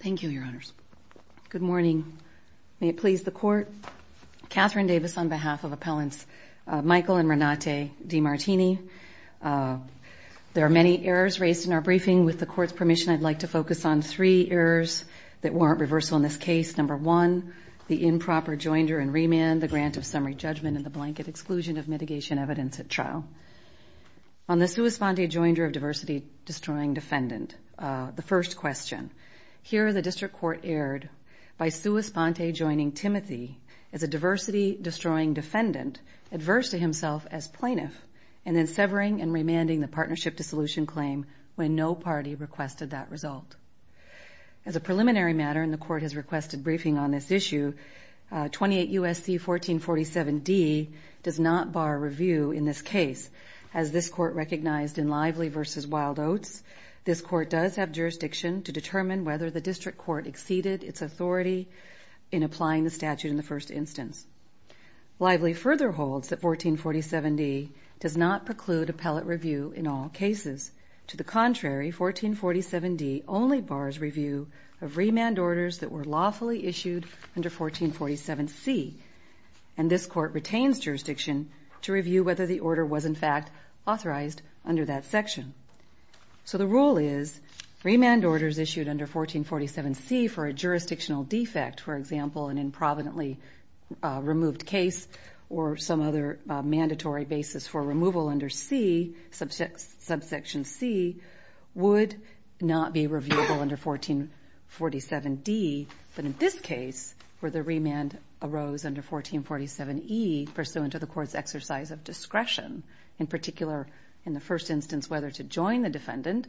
Thank you, Your Honors. Good morning. May it please the Court, Catherine Davis on behalf of Appellants Michael and Renate DeMartini. There are many errors raised in our briefing. With the Court's permission, I'd like to focus on three errors that warrant reversal in this case. Number one, the improper joinder and remand, the grant of summary judgment, and the blanket exclusion of mitigation evidence at trial. On the sua sponte joinder of diversity destroying defendant, the first question, here the District Court erred by sua sponte joining Timothy as a diversity destroying defendant, adverse to himself as plaintiff, and then severing and remanding the partnership dissolution claim when no party requested that result. As a preliminary matter, and the Court has requested briefing on this issue, 28 U.S.C. 1447D does not bar review in this case. As this Court recognized in Lively v. Wild Oats, this Court does have jurisdiction to determine whether the District Court exceeded its authority in applying the statute in the first instance. Lively further holds that 1447D does not preclude appellate review in all cases. To the contrary, 1447D only bars review of remand orders that were lawfully issued under 1447C. And this Court retains jurisdiction to review whether the order was in fact authorized under that section. So the rule is, remand orders issued under 1447C for a jurisdictional defect, for example, an improvidently removed case or some other mandatory basis for removal under C, subsection C, would not be reviewable under 1447D. But in this case, where the remand arose under 1447E, pursuant to the Court's exercise of discretion, in particular in the first instance whether to join the defendant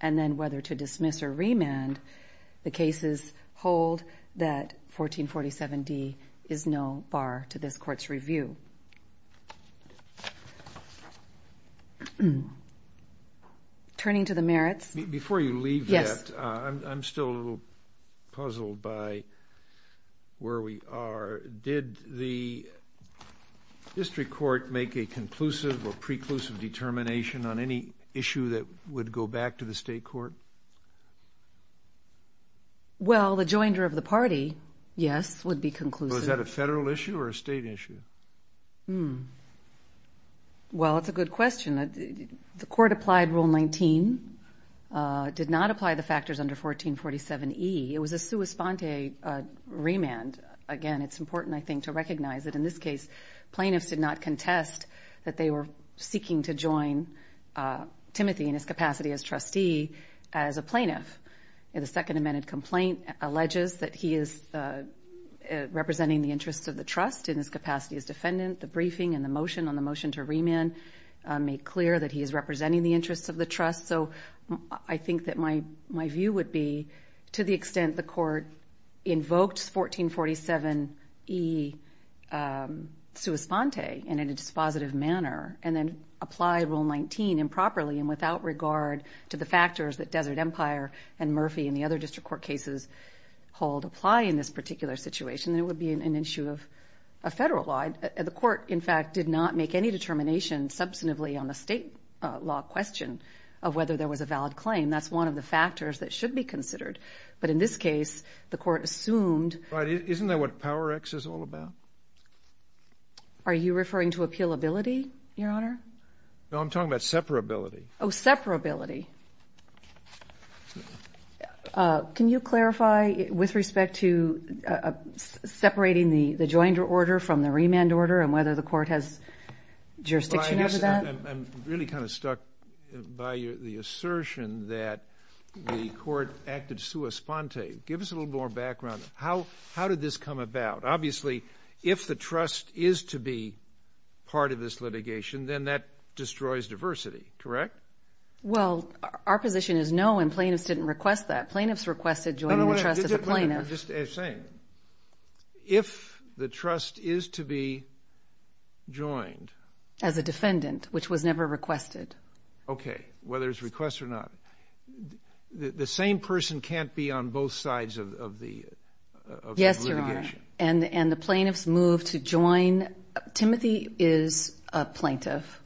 and then whether to dismiss or remand, the cases hold that 1447D is no to this Court's review. Turning to the merits. Before you leave that, I'm still a little puzzled by where we are. Did the District Court make a conclusive or preclusive determination on any issue that would go back to the State Court? Well, the joinder of the party, yes, would be conclusive. Was that a Federal issue or a State issue? Well, it's a good question. The Court applied Rule 19, did not apply the factors under 1447E. It was a sua sponte remand. Again, it's important, I think, to recognize that in this case, plaintiffs did not contest that they were seeking to join Timothy in his capacity as trustee as a plaintiff. The Second Amendment complaint alleges that he is representing the interests of the trust in his capacity as defendant. The briefing and the motion on the motion to remand make clear that he is representing the interests of the trust. So I think that my view would be, to the extent the Court invoked 1447E sua sponte and in a dispositive manner, and then applied Rule 19 improperly and without regard to the factors that Desert Empire and Murphy and the other District Court cases hold apply in this particular situation, then it would be an issue of Federal law. The Court, in fact, did not make any determination substantively on the State law question of whether there was a valid question. But in this case, the Court assumed the extent of the discretion of the District Court, to the extent the District Court considered. But in this case, the Court assumed. But isn't that what PowerX is all about? Are you referring to appealability, Your Honor? No, I'm talking about separability. Oh, separability. Can you clarify, with respect to separating the joined order from the remand order and whether the Court has jurisdiction over that? I'm really kind of stuck by the assertion that the Court acted sua sponte. Give us a little more background. How did this come about? Obviously, if the trust is to be part of this litigation, then that destroys diversity, correct? Well, our position is no, and plaintiffs didn't request that. Plaintiffs requested joining the trust as a plaintiff. I'm just saying, if the trust is to be joined. As a defendant, which was never requested. Okay, whether it's request or not. The same person can't be on both sides of the litigation. And the plaintiffs moved to join. Timothy is a plaintiff.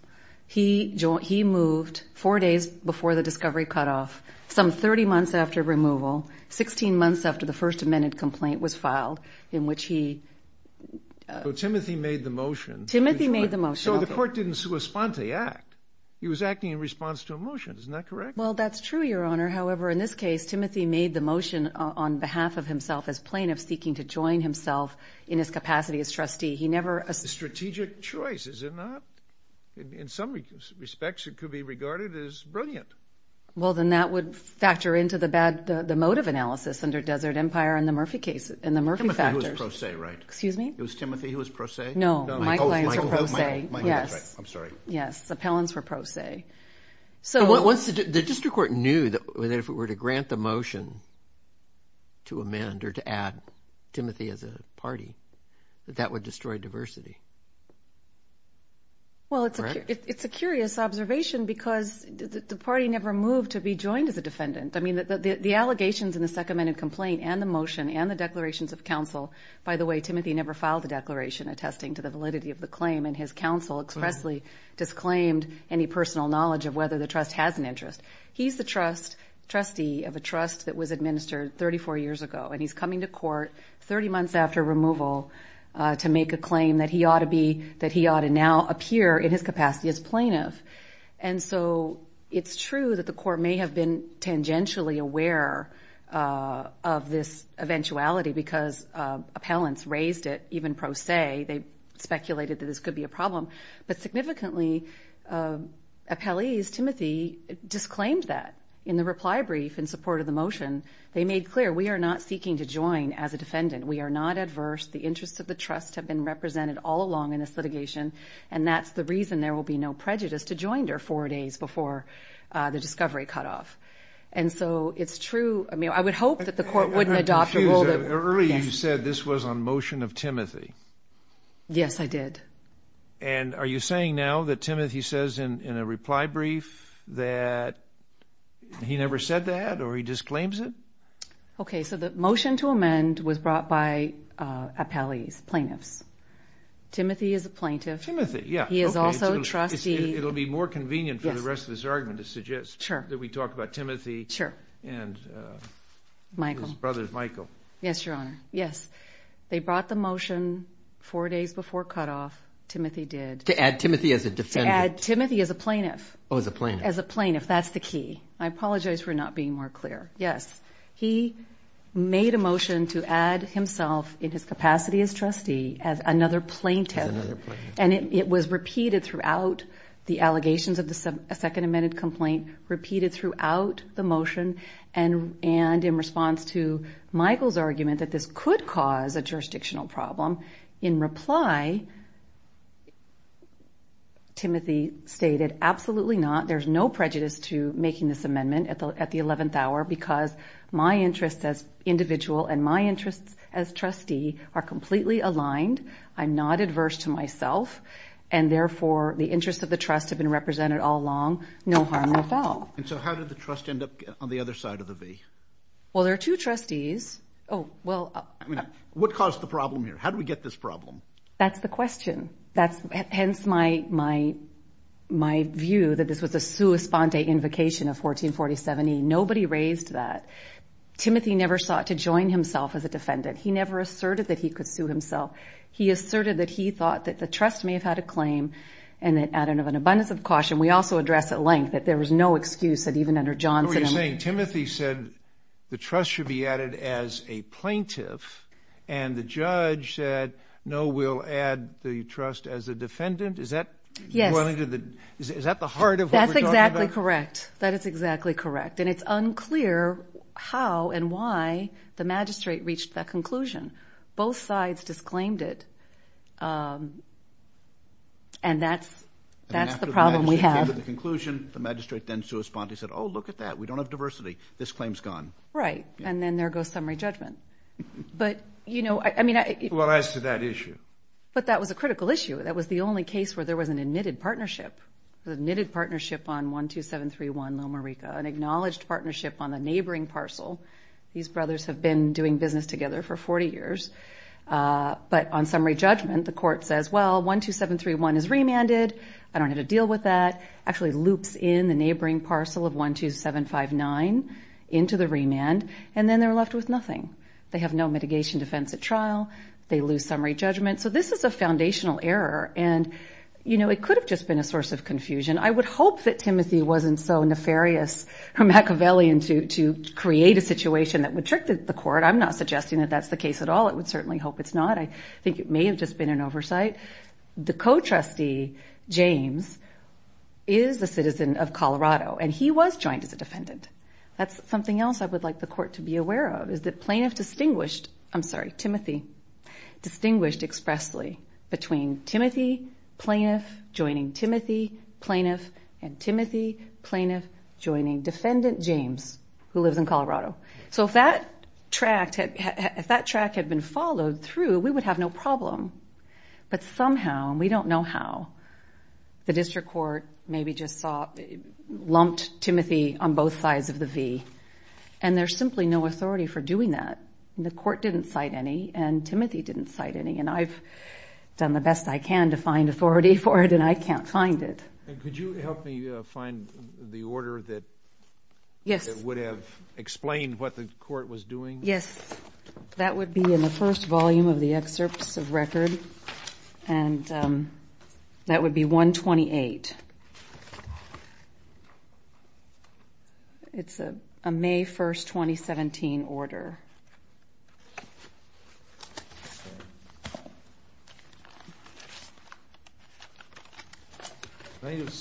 He moved four days before the discovery cutoff, some 30 months after removal, 16 months after the First Amendment complaint was filed, in which he... So Timothy made the motion. Timothy made the motion. So the Court didn't sua sponte act. He was acting in response to a motion. Isn't that correct? Well, that's true, Your Honor. However, in this case, Timothy made the motion on behalf of himself as plaintiff seeking to join himself in his capacity as trustee. He never... A strategic choice, is it not? In some respects, it could be regarded as brilliant. Well, then that would factor into the motive analysis under Desert Empire and the Murphy factors. Timothy was pro se, right? Excuse me? It was Timothy who was pro se? No, my clients were pro se. I'm sorry. Yes, appellants were pro se. The district court knew that if it were to grant the motion to amend or to add Timothy as a party, that that would destroy diversity. Well, it's a curious observation because the party never moved to be joined as a defendant. I mean, the allegations in the second amendment complaint and the motion and the counsel expressly disclaimed any personal knowledge of whether the trust has an interest. He's the trustee of a trust that was administered 34 years ago, and he's coming to court 30 months after removal to make a claim that he ought to now appear in his capacity as plaintiff. And so it's true that the court may have been tangentially aware of this eventuality because appellants raised it even pro se. They speculated that this could be a problem. But significantly, appellees, Timothy disclaimed that. In the reply brief in support of the motion, they made clear, we are not seeking to join as a defendant. We are not adverse. The interests of the trust have been represented all along in this litigation. And that's the reason there will be no prejudice to join her four days before the discovery cutoff. And so it's true. I mean, I would hope that the court wouldn't adopt a rule that early. You said this was on motion of Timothy. Yes, I did. And are you saying now that Timothy says in a reply brief that he never said that or he disclaims it? Okay. So the motion to amend was brought by appellees, plaintiffs. Timothy is a plaintiff. Timothy. Yeah. He is also a trustee. It'll be more convenient for the rest of this argument to suggest that we talk about Timothy and his brother, Michael. Yes, Your Honor. Yes. They brought the motion four days before cutoff. Timothy did. To add Timothy as a defendant. To add Timothy as a plaintiff. Oh, as a plaintiff. As a plaintiff. That's the key. I apologize for not being more clear. Yes. He made a motion to add repeated throughout the allegations of the second amended complaint, repeated throughout the motion and in response to Michael's argument that this could cause a jurisdictional problem. In reply, Timothy stated, absolutely not. There's no prejudice to making this amendment at the at the 11th hour because my interests as individual and my interests as therefore the interest of the trust have been represented all along. No harm, no foul. And so how did the trust end up on the other side of the V? Well, there are two trustees. Oh, well, I mean, what caused the problem here? How do we get this problem? That's the question. That's hence my my my view that this was a sua sponte invocation of 1440 70. Nobody raised that. Timothy never sought to join himself as a defendant. He asserted that he thought that the trust may have had a claim and that added of an abundance of caution. We also address at length that there was no excuse that even under Johnson saying Timothy said the trust should be added as a plaintiff. And the judge said, no, we'll add the trust as a defendant. Is that yes. Is that the heart of that? That's exactly correct. That is exactly correct. And it's unclear how and why the magistrate reached that conclusion. Both sides disclaimed it. And that's that's the problem we have. The conclusion, the magistrate then sua sponte said, oh, look at that. We don't have diversity. This claim's gone. Right. And then there goes summary judgment. But, you know, I mean, it was to that issue. But that was a critical issue. That was the only case where there was an admitted partnership, the knitted partnership on one, two, seven, three, one, Loma Rica, an acknowledged partnership on the neighboring parcel. These brothers have been doing business together for 40 years. But on summary judgment, the court says, well, one, two, seven, three, one is remanded. I don't have to deal with that. Actually loops in the neighboring parcel of one, two, seven, five, nine into the remand. And then they're left with nothing. They have no mitigation defense at trial. They lose summary judgment. So this is a foundational error. And, you know, it could have just been a source of confusion. I would hope that Timothy wasn't so nefarious or Machiavellian to to create a situation that would trick the court. I'm not suggesting that that's the case at all. It would certainly hope it's not. I think it may have just been an oversight. The co-trustee, James, is a citizen of Colorado and he was joined as a defendant. That's something else I would like the court to be Timothy Plaintiff joining Timothy Plaintiff and Timothy Plaintiff joining defendant James, who lives in Colorado. So if that track had been followed through, we would have no problem. But somehow, we don't know how, the district court maybe just lumped Timothy on both sides of the V. And there's simply no authority for doing that. The court didn't cite any and Timothy didn't cite any. And I've done the best I can to find authority for it and I can't find it. Could you help me find the order that would have explained what the court was doing? Yes. That would be in the first volume of the excerpts of record. And that would be 128. It's a May 1st, 2017 order. I think the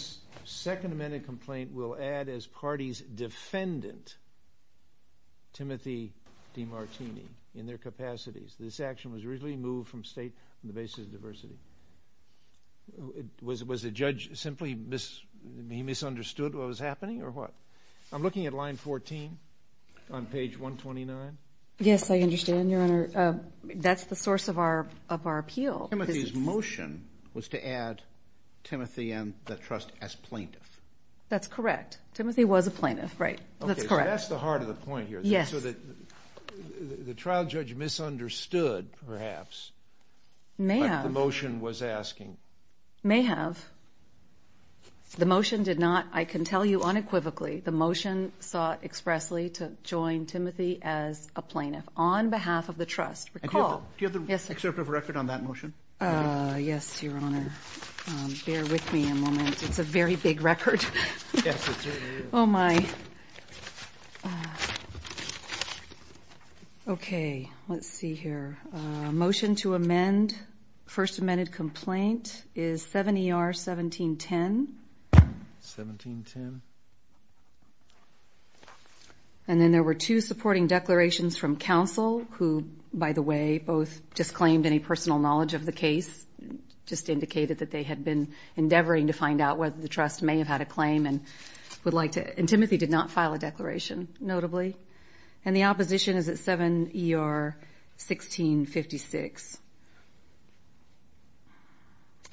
Second Amendment complaint will add as party's defendant Timothy DiMartini in their capacities. This action was originally moved from state on the basis of diversity. Was the judge simply misunderstood what was happening or what? I'm looking at line 14 on page 129. Yes, I understand, Your Honor. That's the source of our appeal. Timothy's motion was to add Timothy and the trust as plaintiff. That's correct. Timothy was a plaintiff. That's the heart of the point here. The trial judge misunderstood, perhaps. May have. May have. The motion did not. I can tell you unequivocally the motion sought expressly to join Timothy as a plaintiff on behalf of the trust. Do you have the excerpt of record on that motion? Yes, Your Honor. Bear with me a moment. It's a very big record. Oh, my. Okay. Let's see here. Motion to amend. First amended complaint is 7 ER 1710. 1710. And then there were two supporting declarations from counsel who, by the way, both disclaimed any personal knowledge of the case. Just indicated that they had been endeavoring to find out whether the trust may have had a claim and would like to. And Timothy did not file a declaration, notably. And the opposition is at 7 ER 1656.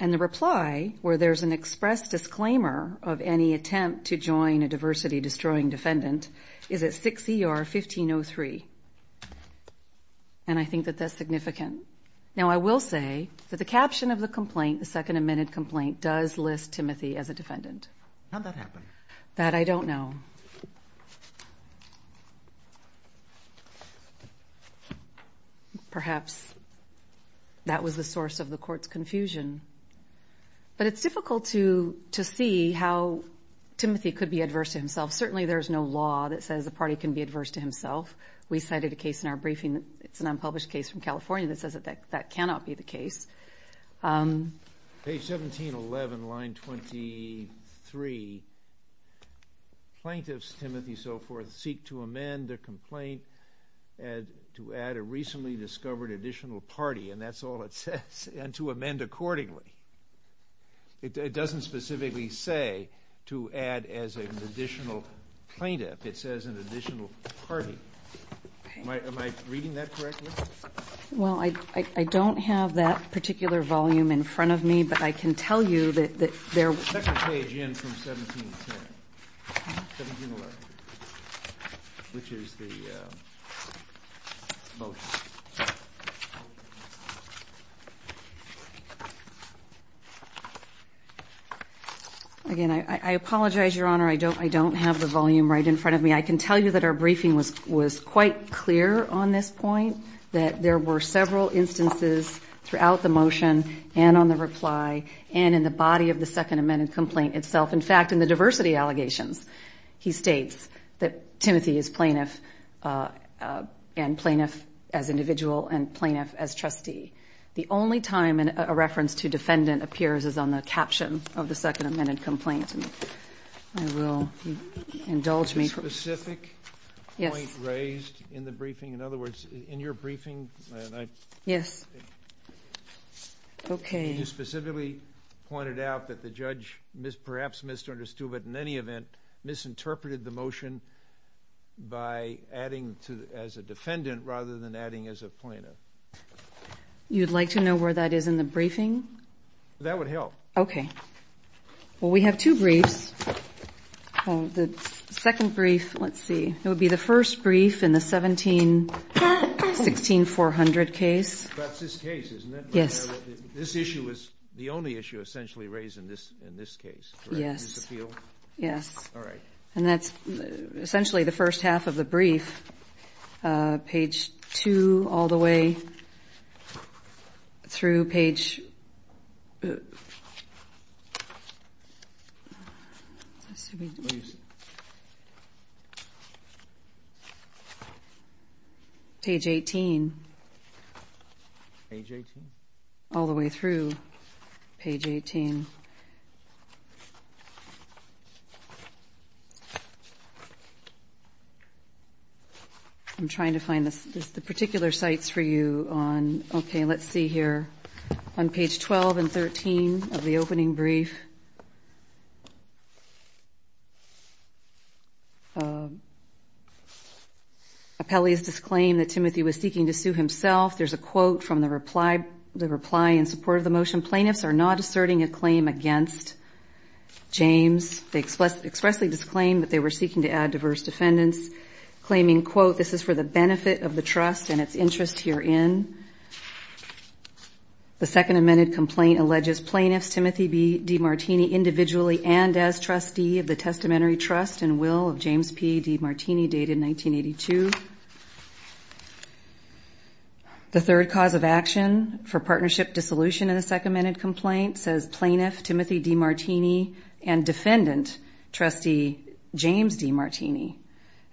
And the reply, where there's an express disclaimer of any attempt to join a diversity-destroying defendant, is at 6 ER 1503. And I think that that's significant. Now, I will say that the caption of the complaint, the second amended complaint, does list Timothy as a defendant. How'd that happen? That I don't know. Perhaps that was the source of the court's confusion. But it's difficult to see how Timothy could be adverse to himself. Certainly there's no law that says a party can be adverse to himself. We cited a case in our briefing. It's an unpublished case from California that says that that cannot be the case. Page 1711, line 23. Plaintiffs, Timothy, so forth, seek to amend their complaint to add a recently discovered additional party. And that's all it says, and to amend accordingly. It doesn't specifically say to add as an additional plaintiff. It says an additional party. Am I reading that correctly? Well, I don't have that particular volume in front of me, but I can tell you that there Let's take a page in from 1710, 1711, which is the motion. Again, I apologize, Your Honor, I don't have the volume right in front of me. I can tell you that our briefing was quite clear on this point, that there were several instances throughout the motion and on the reply and in the body of the Second Amendment complaint itself. In fact, in the diversity allegations, he states that Timothy is plaintiff and plaintiff as individual and plaintiff as trustee. The only time a reference to defendant appears is on the caption of the Second Amendment complaint. I will indulge me. Was there a specific point raised in the briefing? Yes. You specifically pointed out that the judge perhaps misunderstood, but in any event, misinterpreted the motion by adding as a defendant rather than adding as a plaintiff. You'd like to know where that is in the briefing? That would help. Well, we have two briefs. The second brief, let's see, it would be the first brief in the 1716-400 case. That's this case, isn't it? Yes. This issue is the only issue essentially raised in this case, correct? Yes. And that's essentially the first half of the brief, page 2 all the way through page 18, all the way through page 18. I'm trying to find the particular sites for you on, okay, let's see here. On page 12 and 13 of the opening brief. Appellee has disclaimed that Timothy was seeking to sue himself. There's a quote from the reply in support of the motion, plaintiffs are not asserting a claim against James. They expressly disclaimed that they were seeking to add diverse defendants, claiming, quote, this is for the benefit of the trust and its interest herein. The second amended complaint alleges plaintiffs, Timothy D. Martini, individually and as trustee of the testamentary trust and will of James P. D. Martini, dated 1982. The third cause of action for partnership dissolution in the second amended complaint says plaintiff Timothy D. Martini and defendant, trustee James D. Martini.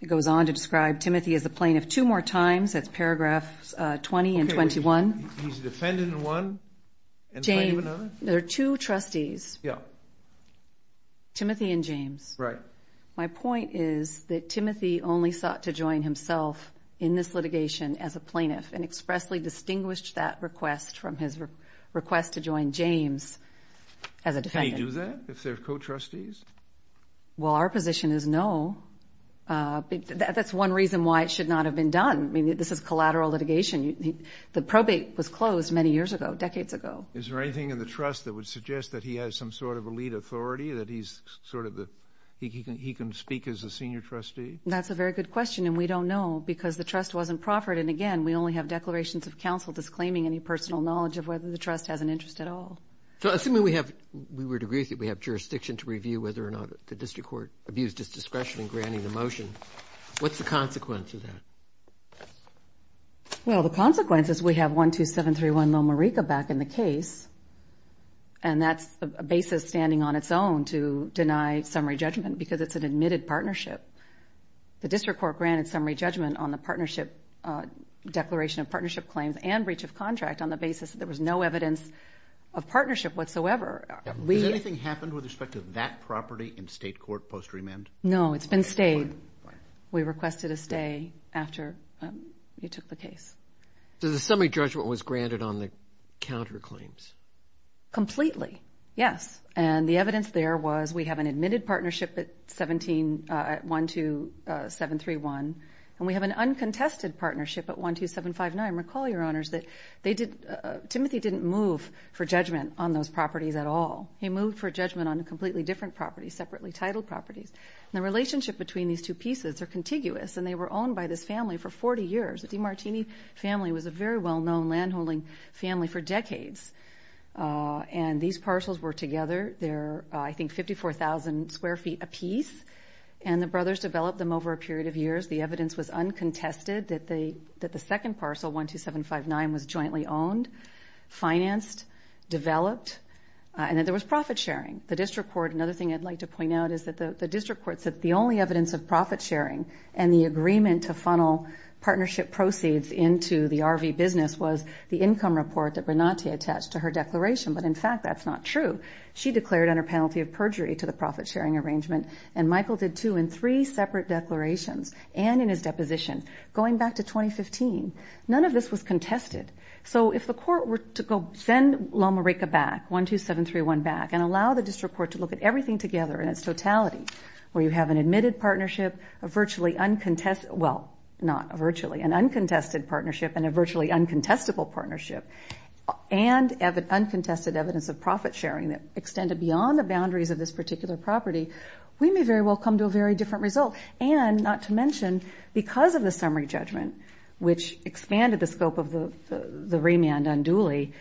It goes on to describe Timothy as the plaintiff two more times, that's paragraph 20 and 21. He's a defendant in one and plaintiff in another? James, there are two trustees. Yeah. Timothy and James. Right. My point is that Timothy only sought to join himself in this litigation as a plaintiff and expressly distinguished that request from his request to join James as a defendant. Well, our position is no. That's one reason why it should not have been done. I mean, this is collateral litigation. The probate was closed many years ago, decades ago. Is there anything in the trust that would suggest that he has some sort of elite authority, that he's sort of the, he can speak as a senior trustee? That's a very good question. And we don't know because the trust wasn't proffered. And again, we only have declarations of counsel disclaiming any personal knowledge of whether the trust has an interest at all. So assuming we have, we would agree with you, we have jurisdiction to review whether or not the district court abused its discretion in this case. So the consequences, we have 12731 Loma Rica back in the case. And that's a basis standing on its own to deny summary judgment because it's an admitted partnership. The district court granted summary judgment on the partnership declaration of partnership claims and breach of contract on the basis that there was no evidence of partnership whatsoever. Has anything happened with respect to that property in state court post remand? No, it's been stayed. We requested a stay after you took the case. So the summary judgment was granted on the counterclaims? Completely, yes. And the evidence there was we have an admitted partnership at 17, 12731 and we have an uncontested partnership at 12759. Recall, Your Honors, that they did, Timothy didn't move for judgment on those properties at all. He moved for judgment on a completely different property, separately titled properties. And the relationship between these two pieces are contiguous and they were owned by this family for 40 years. The DeMartini family was a very well-known landholding family for decades. And these parcels were together, I think 54,000 square feet apiece. And the brothers developed them over a period of years. The evidence was uncontested that the second parcel, 12759, was jointly owned, financed, developed, and that there was profit sharing. The district court, another thing I'd like to point out is that the district court said the only evidence of profit sharing and the agreement to funnel partnership proceeds into the RV business was the income report that Bernadette attached to her declaration. But in fact, that's not true. She declared under penalty of perjury to the profit sharing arrangement. And Michael did, too, in three cases, none of this was contested. So if the court were to go send Loma Rica back, 12731 back, and allow the district court to look at everything together in its totality, where you have an admitted partnership, a virtually uncontested, well, not virtually, an uncontested partnership and a virtually uncontestable partnership, and uncontested evidence of profit sharing that extended beyond the boundaries of this particular property, we may very well come to a very different result. And not to mention, because of the summary judgment, which expanded the scope of the remand unduly,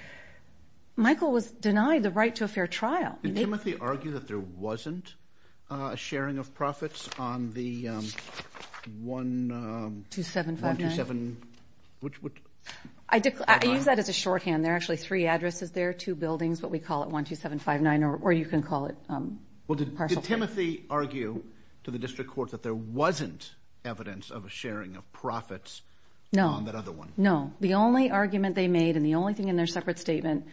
Michael was denied the right to a fair trial. Did Timothy argue that there wasn't a sharing of profits on the 12759? I use that as a shorthand. There are actually three addresses there, two buildings, but we call it 12759, or you can call it partial. Did Timothy argue to the district court that there wasn't evidence of a sharing of profits on that other one? No. The only argument they made, and the only thing in their separate statement,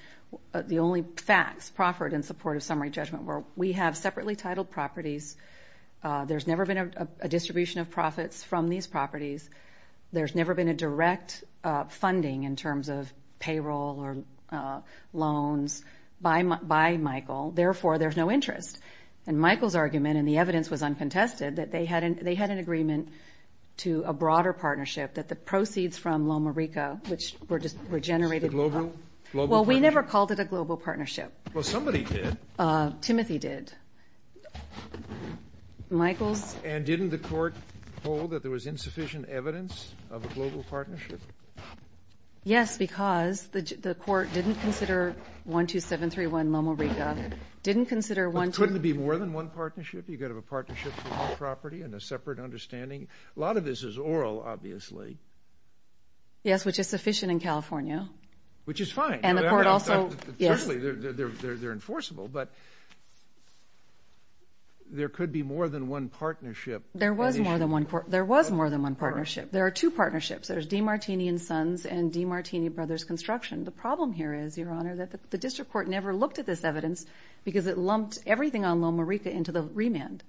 the only facts proffered in support of summary judgment were, we have separately titled properties, there's never been a distribution of profits from these properties, there's never been a direct funding in terms of payroll or loans by Michael. Therefore, there's no interest. And Michael's argument, and the evidence was uncontested, that they had an agreement to a broader partnership, that the proceeds from Loma Rica, which were just regenerated. Well, we never called it a global partnership. Well, somebody did. Timothy did. And didn't the court hold that there was insufficient evidence of a global partnership? Yes, because the court didn't consider 12731 Loma Rica. Couldn't it be more than one partnership? You've got to have a partnership for all property and a separate understanding. A lot of this is oral, obviously. Yes, which is sufficient in California. Which is fine. They're enforceable, but there could be more than one partnership. There was more than one partnership. There are two partnerships. There's DeMartini & Sons and DeMartini Brothers Construction. The problem here is, Your Honor, that the district court never looked at this evidence because it lumped everything on Loma Rica into the remand.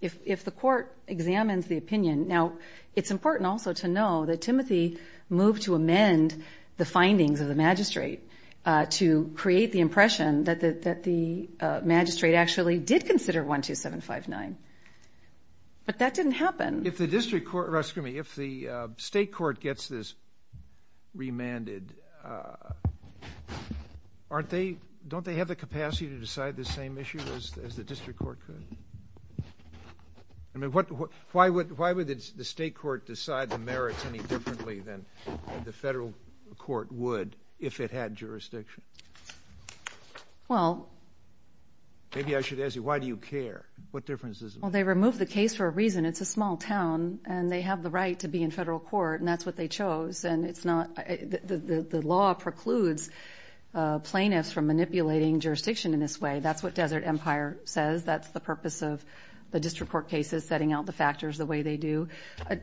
If the court examines the opinion, now, it's important also to know that Timothy moved to amend the findings of the magistrate to create the impression that the magistrate actually did consider 12759. But that didn't happen. If the state court gets this remanded, don't they have the capacity to decide this same issue as the district court could? Why would the state court decide the merits any differently than the federal court would if it had jurisdiction? Maybe I should ask you, why do you care? What difference does it make? Well, they removed the case for a reason. It's a small town, and they have the right to be in federal court, and that's what they chose. The law precludes plaintiffs from manipulating jurisdiction in this way. That's what Desert Empire says. That's the purpose of the district court cases, setting out the factors the way they do.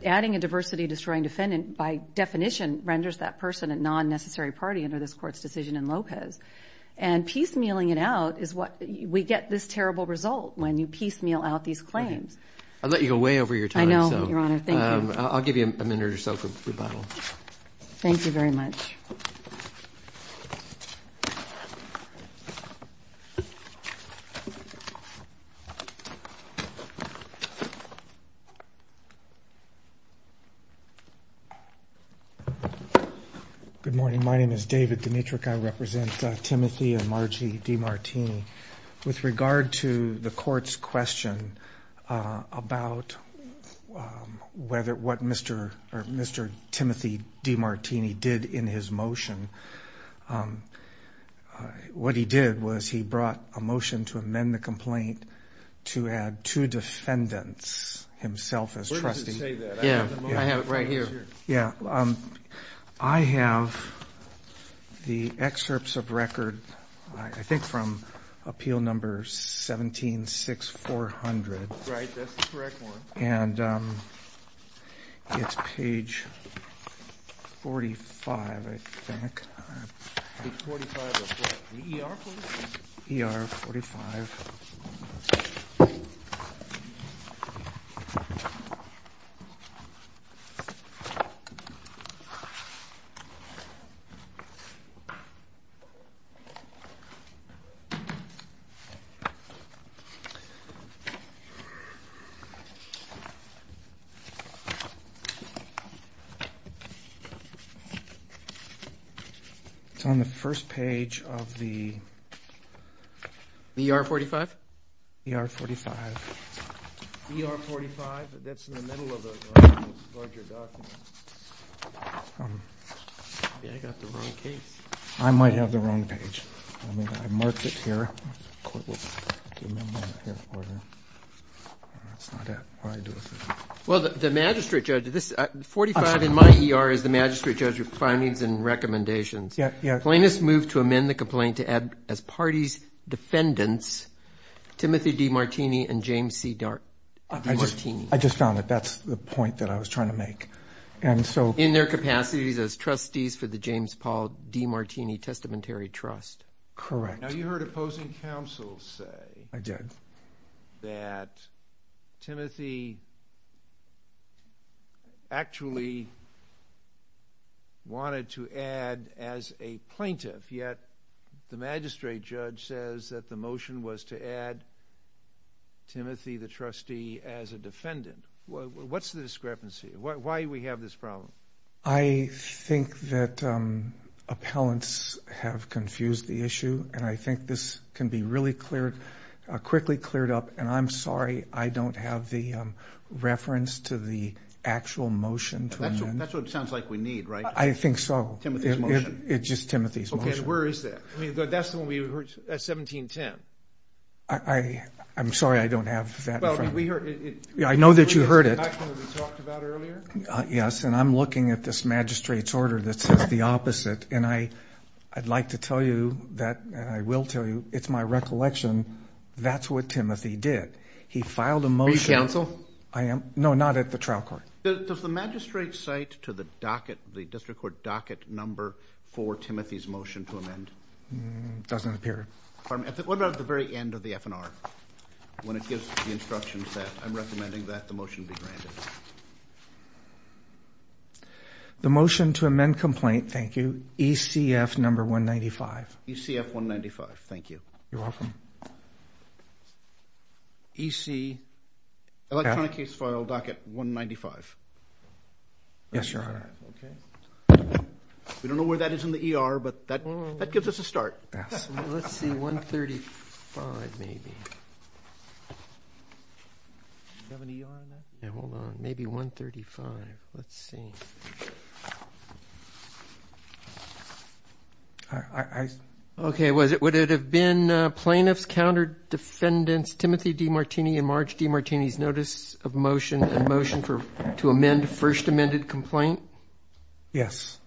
Adding a diversity-destroying defendant, by definition, renders that person a non-necessary party under this court's decision in Lopez. And piecemealing it out is what we get this terrible result when you piecemeal out these claims. I'll let you go way over your time. I'll give you a minute or so for rebuttal. Thank you very much. Good morning. My name is David Dimitrick. I represent Timothy and Margie DeMartini. With regard to the court's question about what Mr. Timothy DeMartini did in his motion, what he did was he brought a motion to amend the complaint to add two defendants himself as trustees. I have the excerpts of record, I think from Appeal No. 17-6400. It's page 45, I think. ER 45. It's on the first page of the ER 45. ER 45. Well, the magistrate judge, 45 in my ER is the magistrate judge's findings and recommendations. Plaintiffs moved to amend the complaint to add as party's defendants Timothy DeMartini and James C. DeMartini. In their capacities as trustees for the James Paul DeMartini Testamentary Trust. Correct. Now you heard opposing counsel say that Timothy actually wanted to add as a plaintiff, yet the magistrate judge says that the motion was to add Timothy the trustee as a defendant. What's the discrepancy? Why do we have this problem? I think that appellants have confused the issue. And I think this can be really cleared, quickly cleared up. And I'm sorry, I don't have the reference to the actual motion. That's what it sounds like we need, right? I think so. It's just Timothy's motion. Where is that? That's the one we heard at 1710. I'm sorry, I don't have that. I know that you heard it. Yes. And I'm looking at this magistrate's order that says the opposite. And I'd like to tell you that I will tell you it's my recollection. That's what Timothy did. He filed a motion. Are you counsel? No, not at the trial court. Does the magistrate cite to the docket, the district court docket number for Timothy's motion to amend? Doesn't appear. What about at the very end of the FNR? When it gives the instructions that I'm recommending that the motion be granted. The motion to amend complaint. Thank you. ECF number 195. ECF 195. Thank you. You're welcome. EC electronic case file docket 195. Yes, Your Honor. We don't know where that is in the ER, but that gives us a start. Let's see, 135 maybe. Hold on. Maybe 135. Let's see. I. Okay. Was it? Would it have been plaintiff's counter defendants? Timothy Demartini in March? Demartini's notice of motion and motion for to amend first amended complaint. Yes.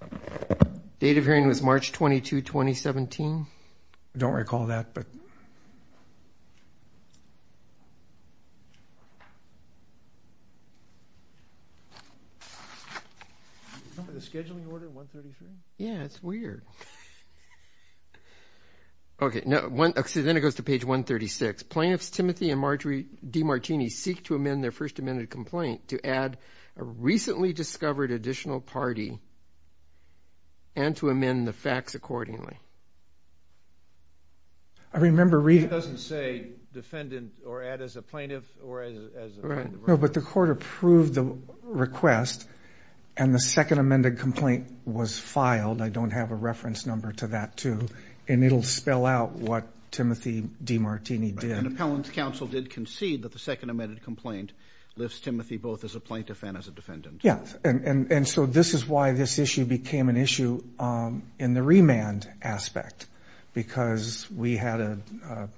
Date of hearing was March 22, 2017. Don't recall that, but. The scheduling order 133. Yeah, it's weird. Okay. No one. See, then it goes to page 136. Plaintiffs, Timothy and Marjorie Demartini, seek to amend their first amended complaint to add a recently discovered additional party. And to amend the facts accordingly. I remember reading. It doesn't say defendant or add as a plaintiff or as. No, but the court approved the request and the second amended complaint was filed. I don't have a reference number to that, too. And it'll spell out what Timothy Demartini did. And appellant's counsel did concede that the second amended complaint lifts Timothy both as a plaintiff and as a defendant. Yes. And so this is why this issue became an issue in the remand aspect because we had a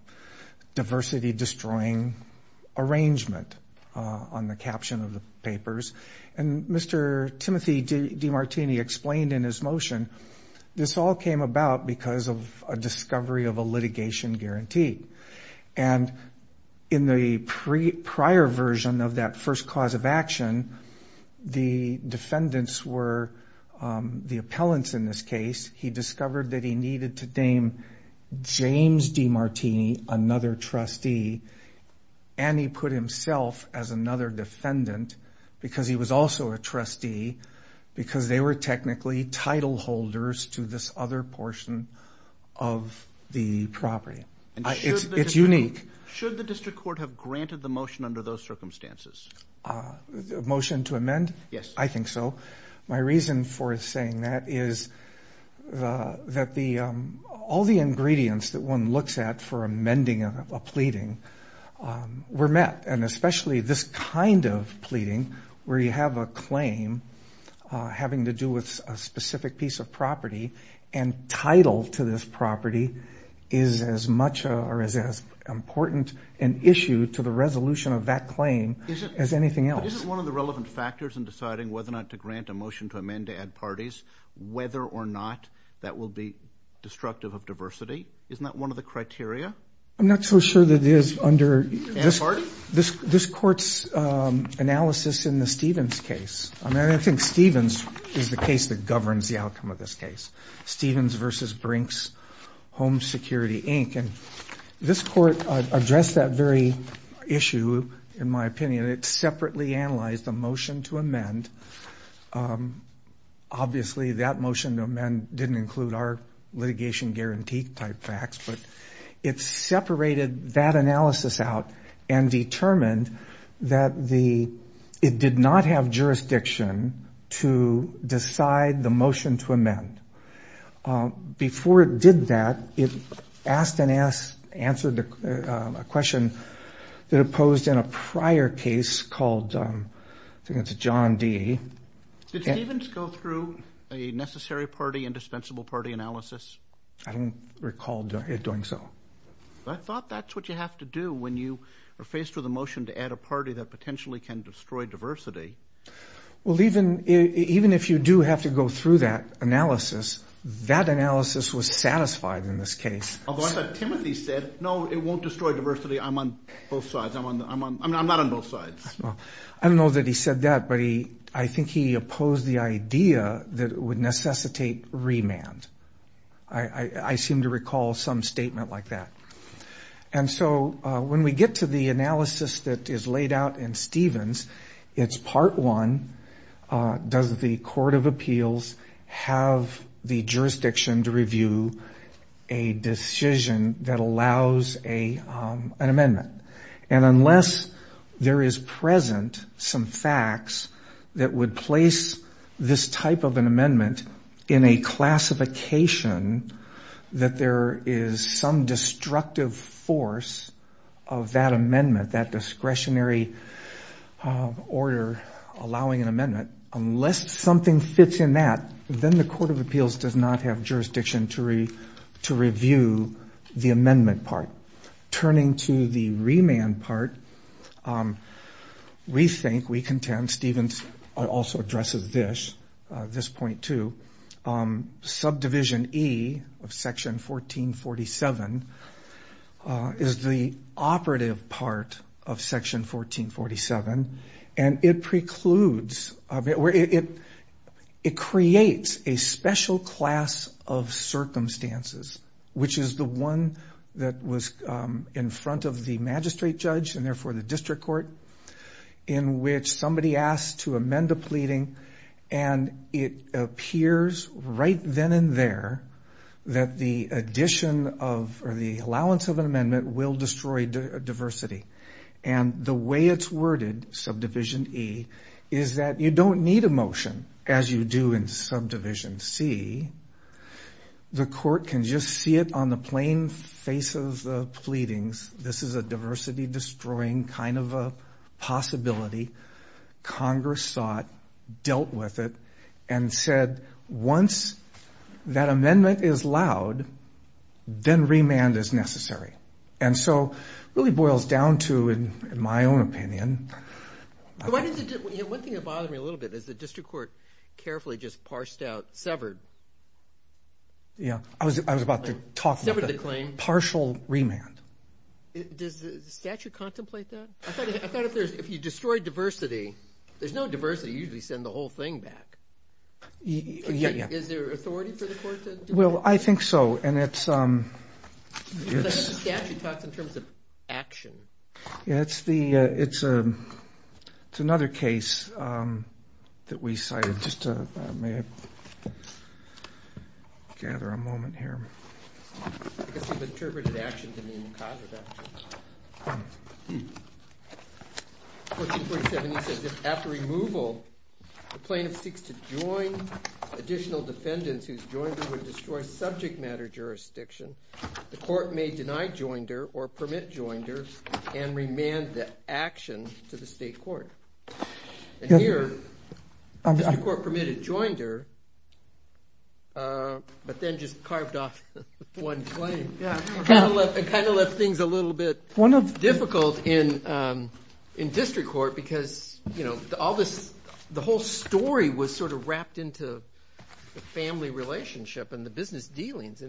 diversity destroying arrangement on the caption of the papers. And Mr. Timothy Demartini explained in his motion, this all came about because of a discovery of a litigation guarantee. And in the prior version of that first cause of action, the defendants were the Mr. Demartini, another trustee, and he put himself as another defendant because he was also a trustee, because they were technically title holders to this other portion of the property. It's unique. Should the district court have granted the motion under those circumstances? Motion to amend? Yes. I think so. My reason for saying that is that all the ingredients that one looks at for amending a pleading were met. And especially this kind of pleading where you have a claim having to do with a specific piece of property and title to this property is as much or as important an issue to the resolution of that claim as anything else. But isn't one of the relevant factors in deciding whether or not to grant a motion to amend to add parties, whether or not that will be destructive of diversity? Isn't that one of the criteria? I'm not so sure that it is under this court's analysis in the Stevens case. I mean, I think Stevens is the case that governs the outcome of this case. Stevens versus Brinks Home Security, Inc. This court addressed that very issue, in my opinion. It separately analyzed the motion to amend. Obviously, that motion to amend didn't include our litigation guarantee type facts, but it separated that analysis out and determined that the motion to amend. Before it did that, it asked and answered a question that it posed in a prior case called John D. Did Stevens go through a necessary party and dispensable party analysis? I don't recall it doing so. I thought that's what you have to do when you are faced with a motion to add a party that potentially can go through that analysis. That analysis was satisfied in this case. Timothy said, no, it won't destroy diversity. I'm on both sides. I'm not on both sides. I don't know that he said that, but I think he opposed the idea that it would necessitate remand. I seem to recall some statement like that. When we get to the analysis that is laid out in Stevens, it's part one. Does the court of appeals have the jurisdiction to review a decision that allows an amendment? Unless there is present some facts that would place this type of an amendment in a classification that there is some order allowing an amendment, unless something fits in that, then the court of appeals does not have jurisdiction to review the amendment part. Turning to the remand part, we think, we contend, Stevens also addresses this, this point too. Subdivision E of section 1447 is the operative part of section 1447 and it precludes, it creates a special class of circumstances, which is the one that was in front of the magistrate judge and therefore the district court in which somebody asked to amend a pleading and it appears right then and there that the addition of, or the allowance of an amendment will destroy diversity. And the way it's worded, subdivision E, is that you don't need a motion as you do in subdivision C. The court can just see it on the plain face of the pleadings. This is a diversity destroying kind of a possibility. Congress sought, dealt with it, and said once that amendment is loud, then remand is necessary. And so it really boils down to, in my own opinion... One thing that bothered me a little bit is the district court carefully just parsed out, severed. Yeah, I was about to talk about the partial remand. Does the statute contemplate that? I thought if you destroy diversity, there's no diversity, you usually send the whole thing back. Is there authority for the court to do that? Well, I think so. I think the statute talks in terms of action. It's another case that we cited. May I gather a moment here? I guess you've interpreted action to mean cause of action. 1447E says, if after removal, the plaintiff seeks to join additional defendants whose joinder would destroy subject matter jurisdiction, the court may deny joinder, or permit joinder, and remand the court permitted joinder, but then just carved off one claim. It kind of left things a little bit difficult in district court, because the whole story was sort of wrapped into the family relationship and the business dealings.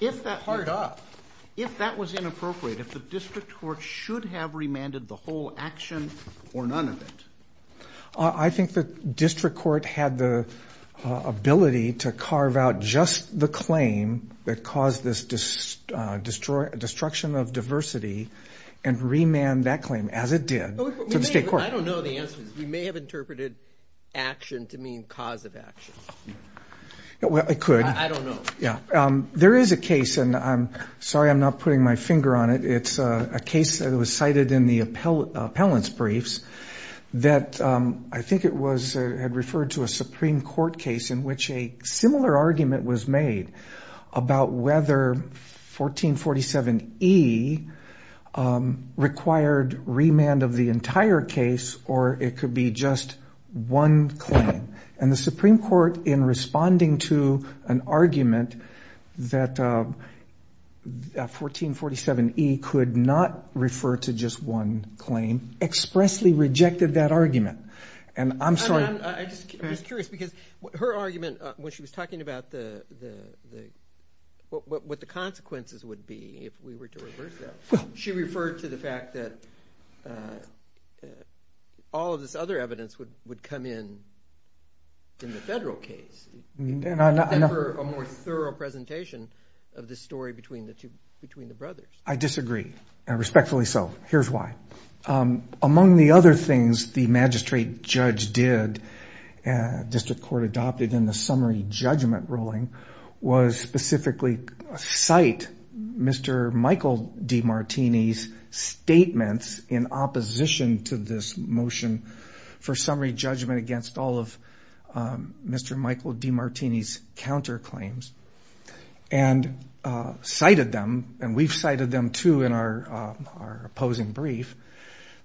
If that was inappropriate, if the district court should have remanded the whole claim, would the district court have interpreted action or none of it? I think the district court had the ability to carve out just the claim that caused this destruction of diversity, and remand that claim, as it did, to the state court. I don't know the answer. We may have interpreted action to mean cause of action. I could. I don't know. There is a case, and I'm sorry I'm not putting my finger on it, it's a case that was cited in the appellant's briefs, that I think it had referred to a Supreme Court case in which a similar argument was made about whether 1447E required remand of the entire case, or it could be just one claim. And the Supreme Court, in responding to an argument that 1447E could not refer to just one claim, expressly rejected that argument. And I'm sorry. I'm just curious, because her argument, when she was talking about what the consequences would be if we were to reverse that, she referred to the fact that all of this other evidence would come in in the federal case. A more thorough presentation of the story between the brothers. I disagree, and respectfully so. Here's why. Among the other things the magistrate judge did, district court adopted in the summary judgment ruling, was specifically cite Mr. Michael Demartini's statements in opposition to this motion for summary judgment against all of Mr. Michael Demartini's counterclaims. And cited them, and we've cited them too in our opposing brief,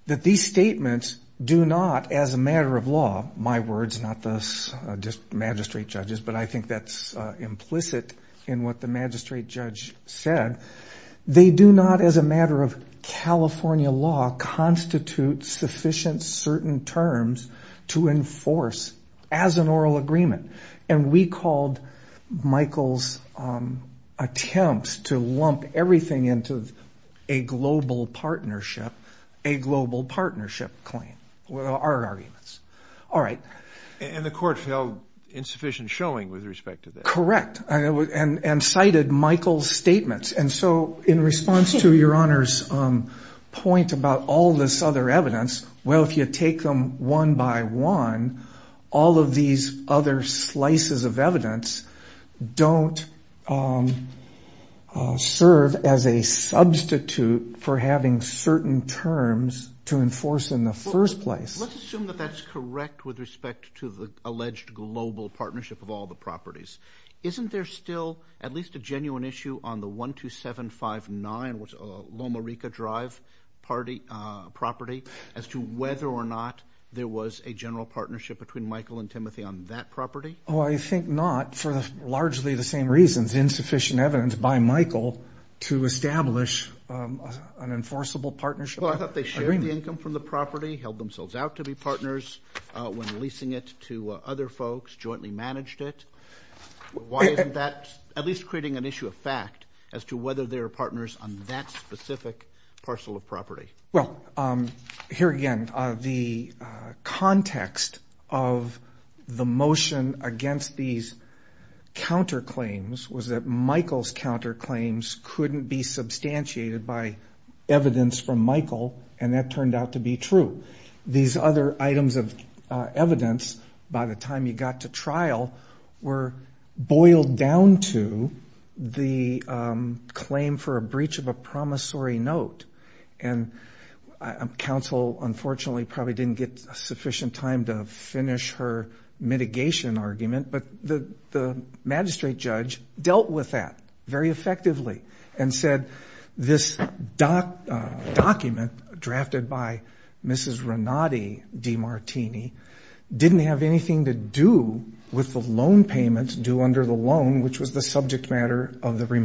that these statements do not as a matter of law, my words, not the magistrate judge's, but I think that's implicit in what the magistrate judge said, they do not as a matter of California law constitute sufficient certain terms to enforce as an oral agreement. And we called Michael's attempts to lump everything into a global partnership, a global partnership claim. Our arguments. All right. And the court held insufficient showing with respect to this. Correct. And cited Michael's statements. And so in response to Your Honor's point about all this other evidence, well if you take them one by one, all of these other slices of evidence don't serve as a substitute for having certain terms to enforce in the first place. Let's assume that that's correct with respect to the alleged global partnership of all the properties. Isn't there still at least a genuine issue on the 12759 Loma Rica Drive property as to whether or not there was a general partnership between Michael and Timothy on that property? I think not for largely the same reasons. Insufficient evidence by Michael to establish an enforceable partnership. I thought they shared the income from the property, held themselves out to be partners when leasing it to other folks, jointly managed it. Why isn't that at least creating an issue of fact as to whether there are partners on that context of the motion against these counterclaims was that Michael's counterclaims couldn't be substantiated by evidence from Michael and that turned out to be true. These other items of evidence by the time you got to trial were boiled down to the claim for a breach of a promissory note. And counsel unfortunately probably didn't get sufficient time to finish her mitigation argument, but the magistrate judge dealt with that very effectively and said this document drafted by Mrs. Renati DeMartini didn't have anything to do with the loan payments due under the loan, which was the subject matter of the case.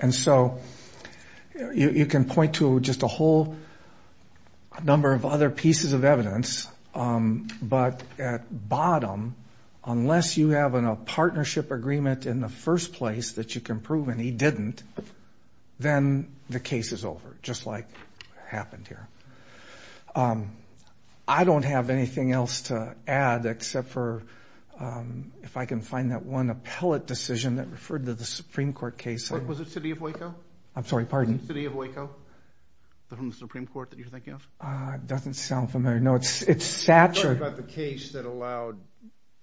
There's a whole number of other pieces of evidence, but at bottom, unless you have a partnership agreement in the first place that you can prove and he didn't, then the case is over, just like happened here. I don't have anything else to add except for if I can find that one appellate decision that referred to the city of Waco from the Supreme Court that you're thinking of. It doesn't sound familiar. No, it's Satcher. I'm talking about the case that allowed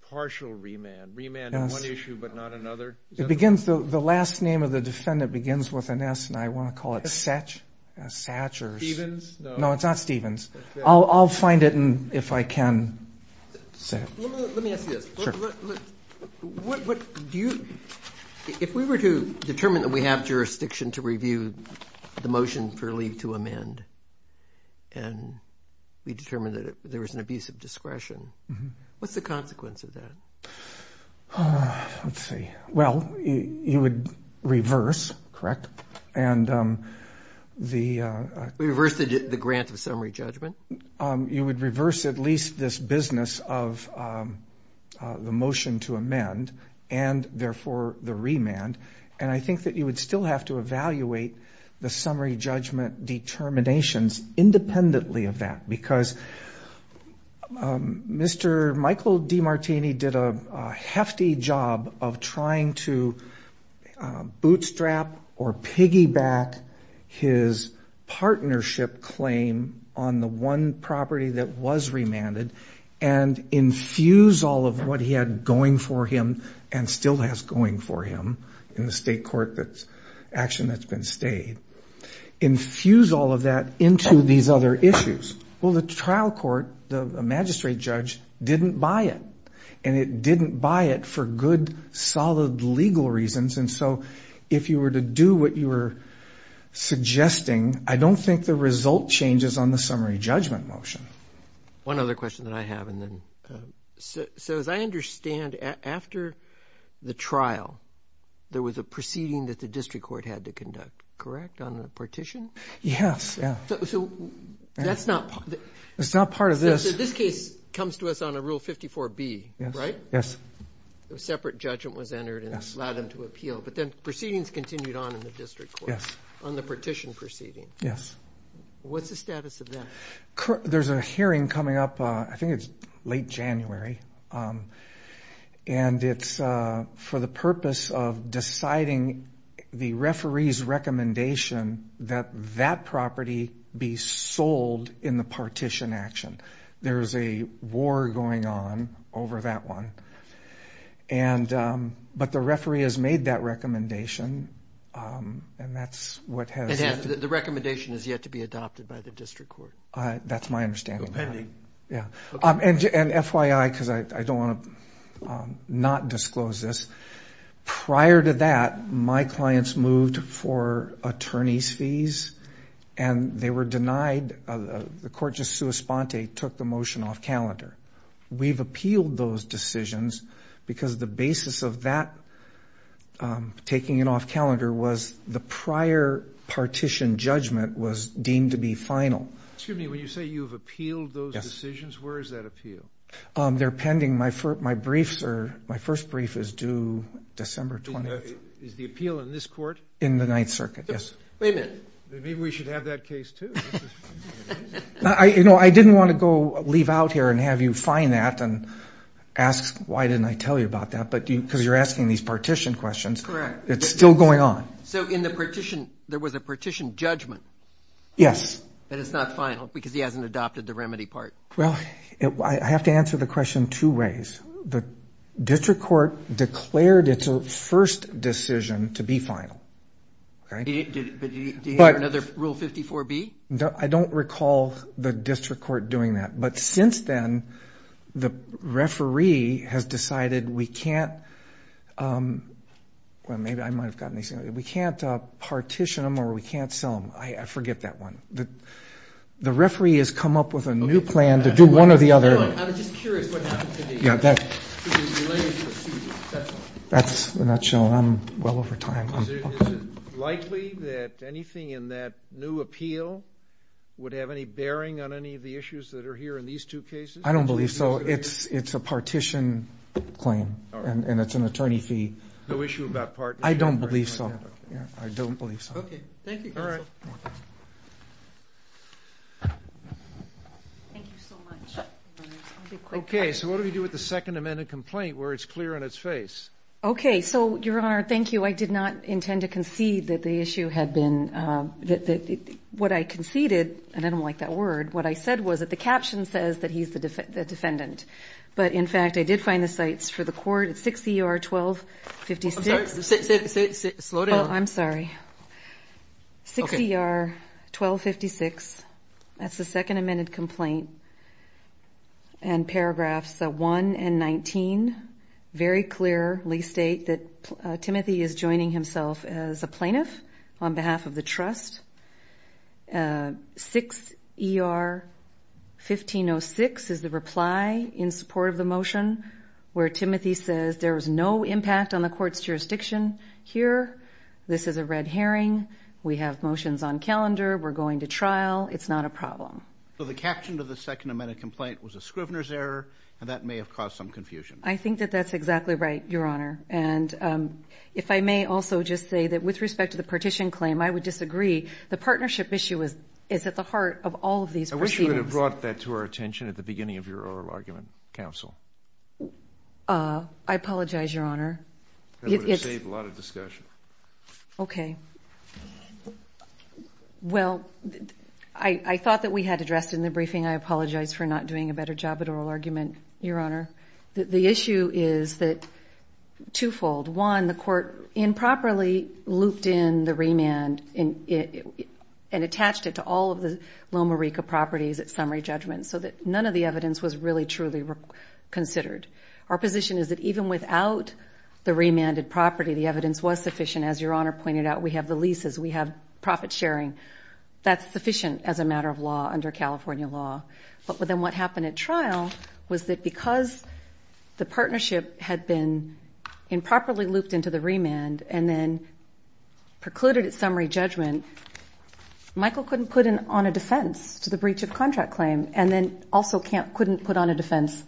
partial remand, remand on one issue but not another. The last name of the defendant begins with an S and I want to call it Satcher's. Stevens? No, it's not Stevens. I'll find it if I can. Let me ask you this. If we were to determine that we have jurisdiction to review the motion for leave to amend and we determined that there was an abuse of discretion, what's the consequence of that? Let's see. Well, you would reverse, correct? We reverse the grant of summary judgment? You would reverse at least this business of the motion to amend and therefore the remand and I think that you would still have to evaluate the summary judgment determinations independently of that because Mr. Michael DiMartini did a hefty job of trying to bootstrap or one property that was remanded and infuse all of what he had going for him and still has going for him in the state court action that's been stayed, infuse all of that into these other issues. Well, the trial court, the magistrate judge didn't buy it and it didn't buy it for good solid legal reasons and so if you were to do what you were suggesting, I don't think the result changes on the summary judgment motion. One other question that I have and then, so as I understand after the trial there was a proceeding that the district court had to conduct, correct? On the partition? Yes. It's not part of this. So this case comes to us on a Rule 54B, right? Yes. A separate judgment was entered and allowed them to appeal but then proceedings continued on in the district court. Yes. On the partition proceeding. Yes. What's the status of that? There's a hearing coming up, I think it's late January and it's for the purpose of deciding the referee's recommendation that that property be sold in the partition action. There's a war going on over that one but the referee has made that recommendation and that's what has... The recommendation has yet to be adopted by the district court. That's my understanding. And FYI, because I don't want to not disclose this, prior to that my clients moved for the motion off calendar. We've appealed those decisions because the basis of that taking it off calendar was the prior partition judgment was deemed to be final. Excuse me, when you say you've appealed those decisions, where is that appeal? They're pending. My first brief is due December 20th. Is the appeal in this court? In the Ninth Circuit, yes. Wait a minute. Maybe we should have that case too. I didn't want to go leave out here and have you find that and ask why didn't I tell you about that because you're asking these partition questions. Correct. It's still going on. So in the partition there was a partition judgment. Yes. That it's not final because he hasn't adopted the remedy part. Well, I have to answer the question two ways. The district court declared its first decision to be final. Do you have another Rule 54B? I don't recall the district court doing that. But since then the referee has decided we can't partition them or we can't sell them. I forget that one. The referee has come up with a new plan to do one or the other. I'm just curious what happened to the relationship. I'm well over time. Is it likely that anything in that new appeal would have any bearing on any of the issues that are here in these two cases? I don't believe so. It's a partition claim and it's an attorney fee. No issue about partition? I don't believe so. Okay. Thank you, Counsel. Thank you so much. Okay. So what do we do with the Second Amendment complaint where it's clear in its face? Okay. So, Your Honor, thank you. I did not intend to concede that the issue had been what I conceded, and I don't like that word, what I said was that the caption says that he's the defendant. But, in fact, I did find the sites for the court at 6 ER 1256. I'm sorry. 6 ER 1256. That's the Second Amendment complaint. And paragraphs 1 and 19 very clearly state that Timothy is joining himself as a plaintiff on behalf of the trust. 6 ER 1506 is the reply in support of the motion where Timothy says there is no impact on the court's jurisdiction here. This is a red herring. We have motions on calendar. We're going to trial. It's not a problem. So the caption of the Second Amendment complaint was a Scrivener's error and that may have caused some confusion. I think that that's exactly right, Your Honor. And if I may also just say that with respect to the partition claim, I would disagree. The partnership issue is at the heart of all of these proceedings. I wish you would have brought that to our attention at the beginning of your oral argument, Counsel. I apologize, Your Honor. That would have saved a lot of discussion. Okay. Well, I thought that we had addressed it in the briefing. I apologize for not doing a better job at oral argument, Your Honor. The issue is that twofold. One, the court improperly looped in the remand and attached it to all of the Loma Rica properties at summary judgment so that none of the evidence was really truly considered. Our position is that even without the remanded property, the evidence was sufficient. As Your Honor pointed out, we have the leases. We have profit sharing. That's sufficient as a matter of law under California law. But then what happened at trial was that because the partnership had been improperly looped into the remand and then precluded at summary judgment, Michael couldn't put on a defense to the breach of contract claim and then also couldn't put on a defense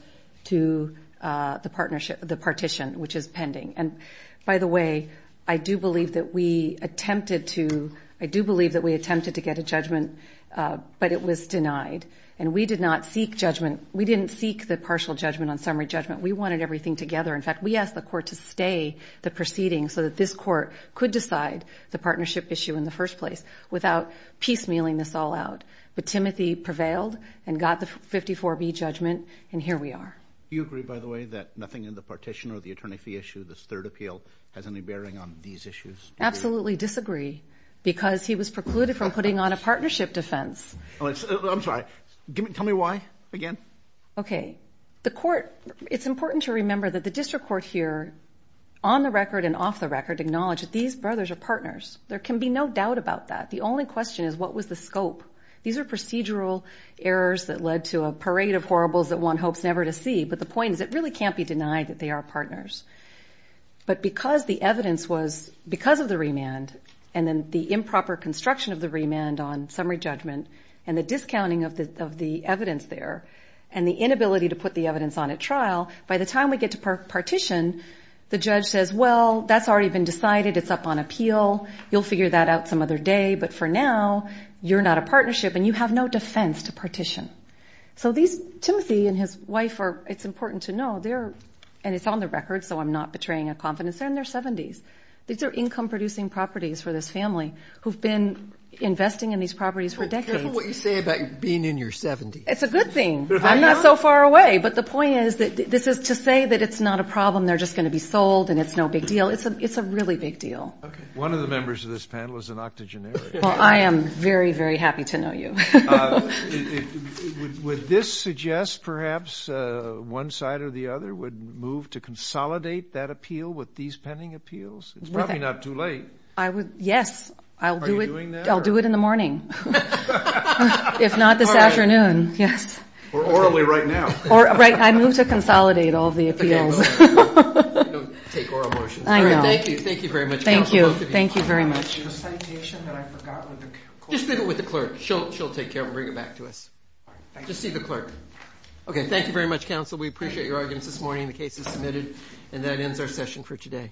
to the partition, which is pending. And by the way, I do believe that we attempted to get a judgment, but it was denied. And we did not seek judgment. We didn't seek the partial judgment on summary judgment. We wanted everything together. In fact, we asked the court to stay the proceeding so that this court could decide the partnership issue in the first place without piecemealing this all out. But Timothy prevailed and got the 54B judgment, and here we are. Do you agree, by the way, that nothing in the partition or the attorney fee issue, this third appeal, has any bearing on these issues? Absolutely disagree, because he was precluded from putting on a partnership defense. I'm sorry. Tell me why again. It's important to remember that the district court here, on the record and off the record, acknowledged that these brothers are partners. There can be no doubt about that. The only question is, what was the scope? These are procedural errors that led to a parade of horribles that one hopes never to see. But the point is, it really can't be that way. So the cost of the remand, and then the improper construction of the remand on summary judgment, and the discounting of the evidence there, and the inability to put the evidence on at trial, by the time we get to partition, the judge says, well, that's already been decided. It's up on appeal. You'll figure that out some other day. But for now, you're not a partnership, and you have no defense to partition. So these, Timothy and his wife are, it's important to know, they're, and it's on the record, so I'm not betraying a confidence. They're in their 70s. These are income-producing properties for this family who've been investing in these properties for decades. Careful what you say about being in your 70s. It's a good thing. I'm not so far away. But the point is, this is to say that it's not a problem. They're just going to be sold, and it's no big deal. It's a really big deal. One of the members of this panel is an octogenarian. Well, I am very, very happy to know you. Would this suggest perhaps one side or the other would move to consolidate that appeal with these pending appeals? It's probably not too late. Are you doing that? I'll do it in the morning, if not this afternoon. Orally right now. I move to consolidate all of the appeals. Just leave it with the clerk. She'll take care of it and bring it back to us. Just see the clerk. Okay, thank you very much, counsel. We appreciate your arguments this morning. The case is submitted, and that ends our session for today.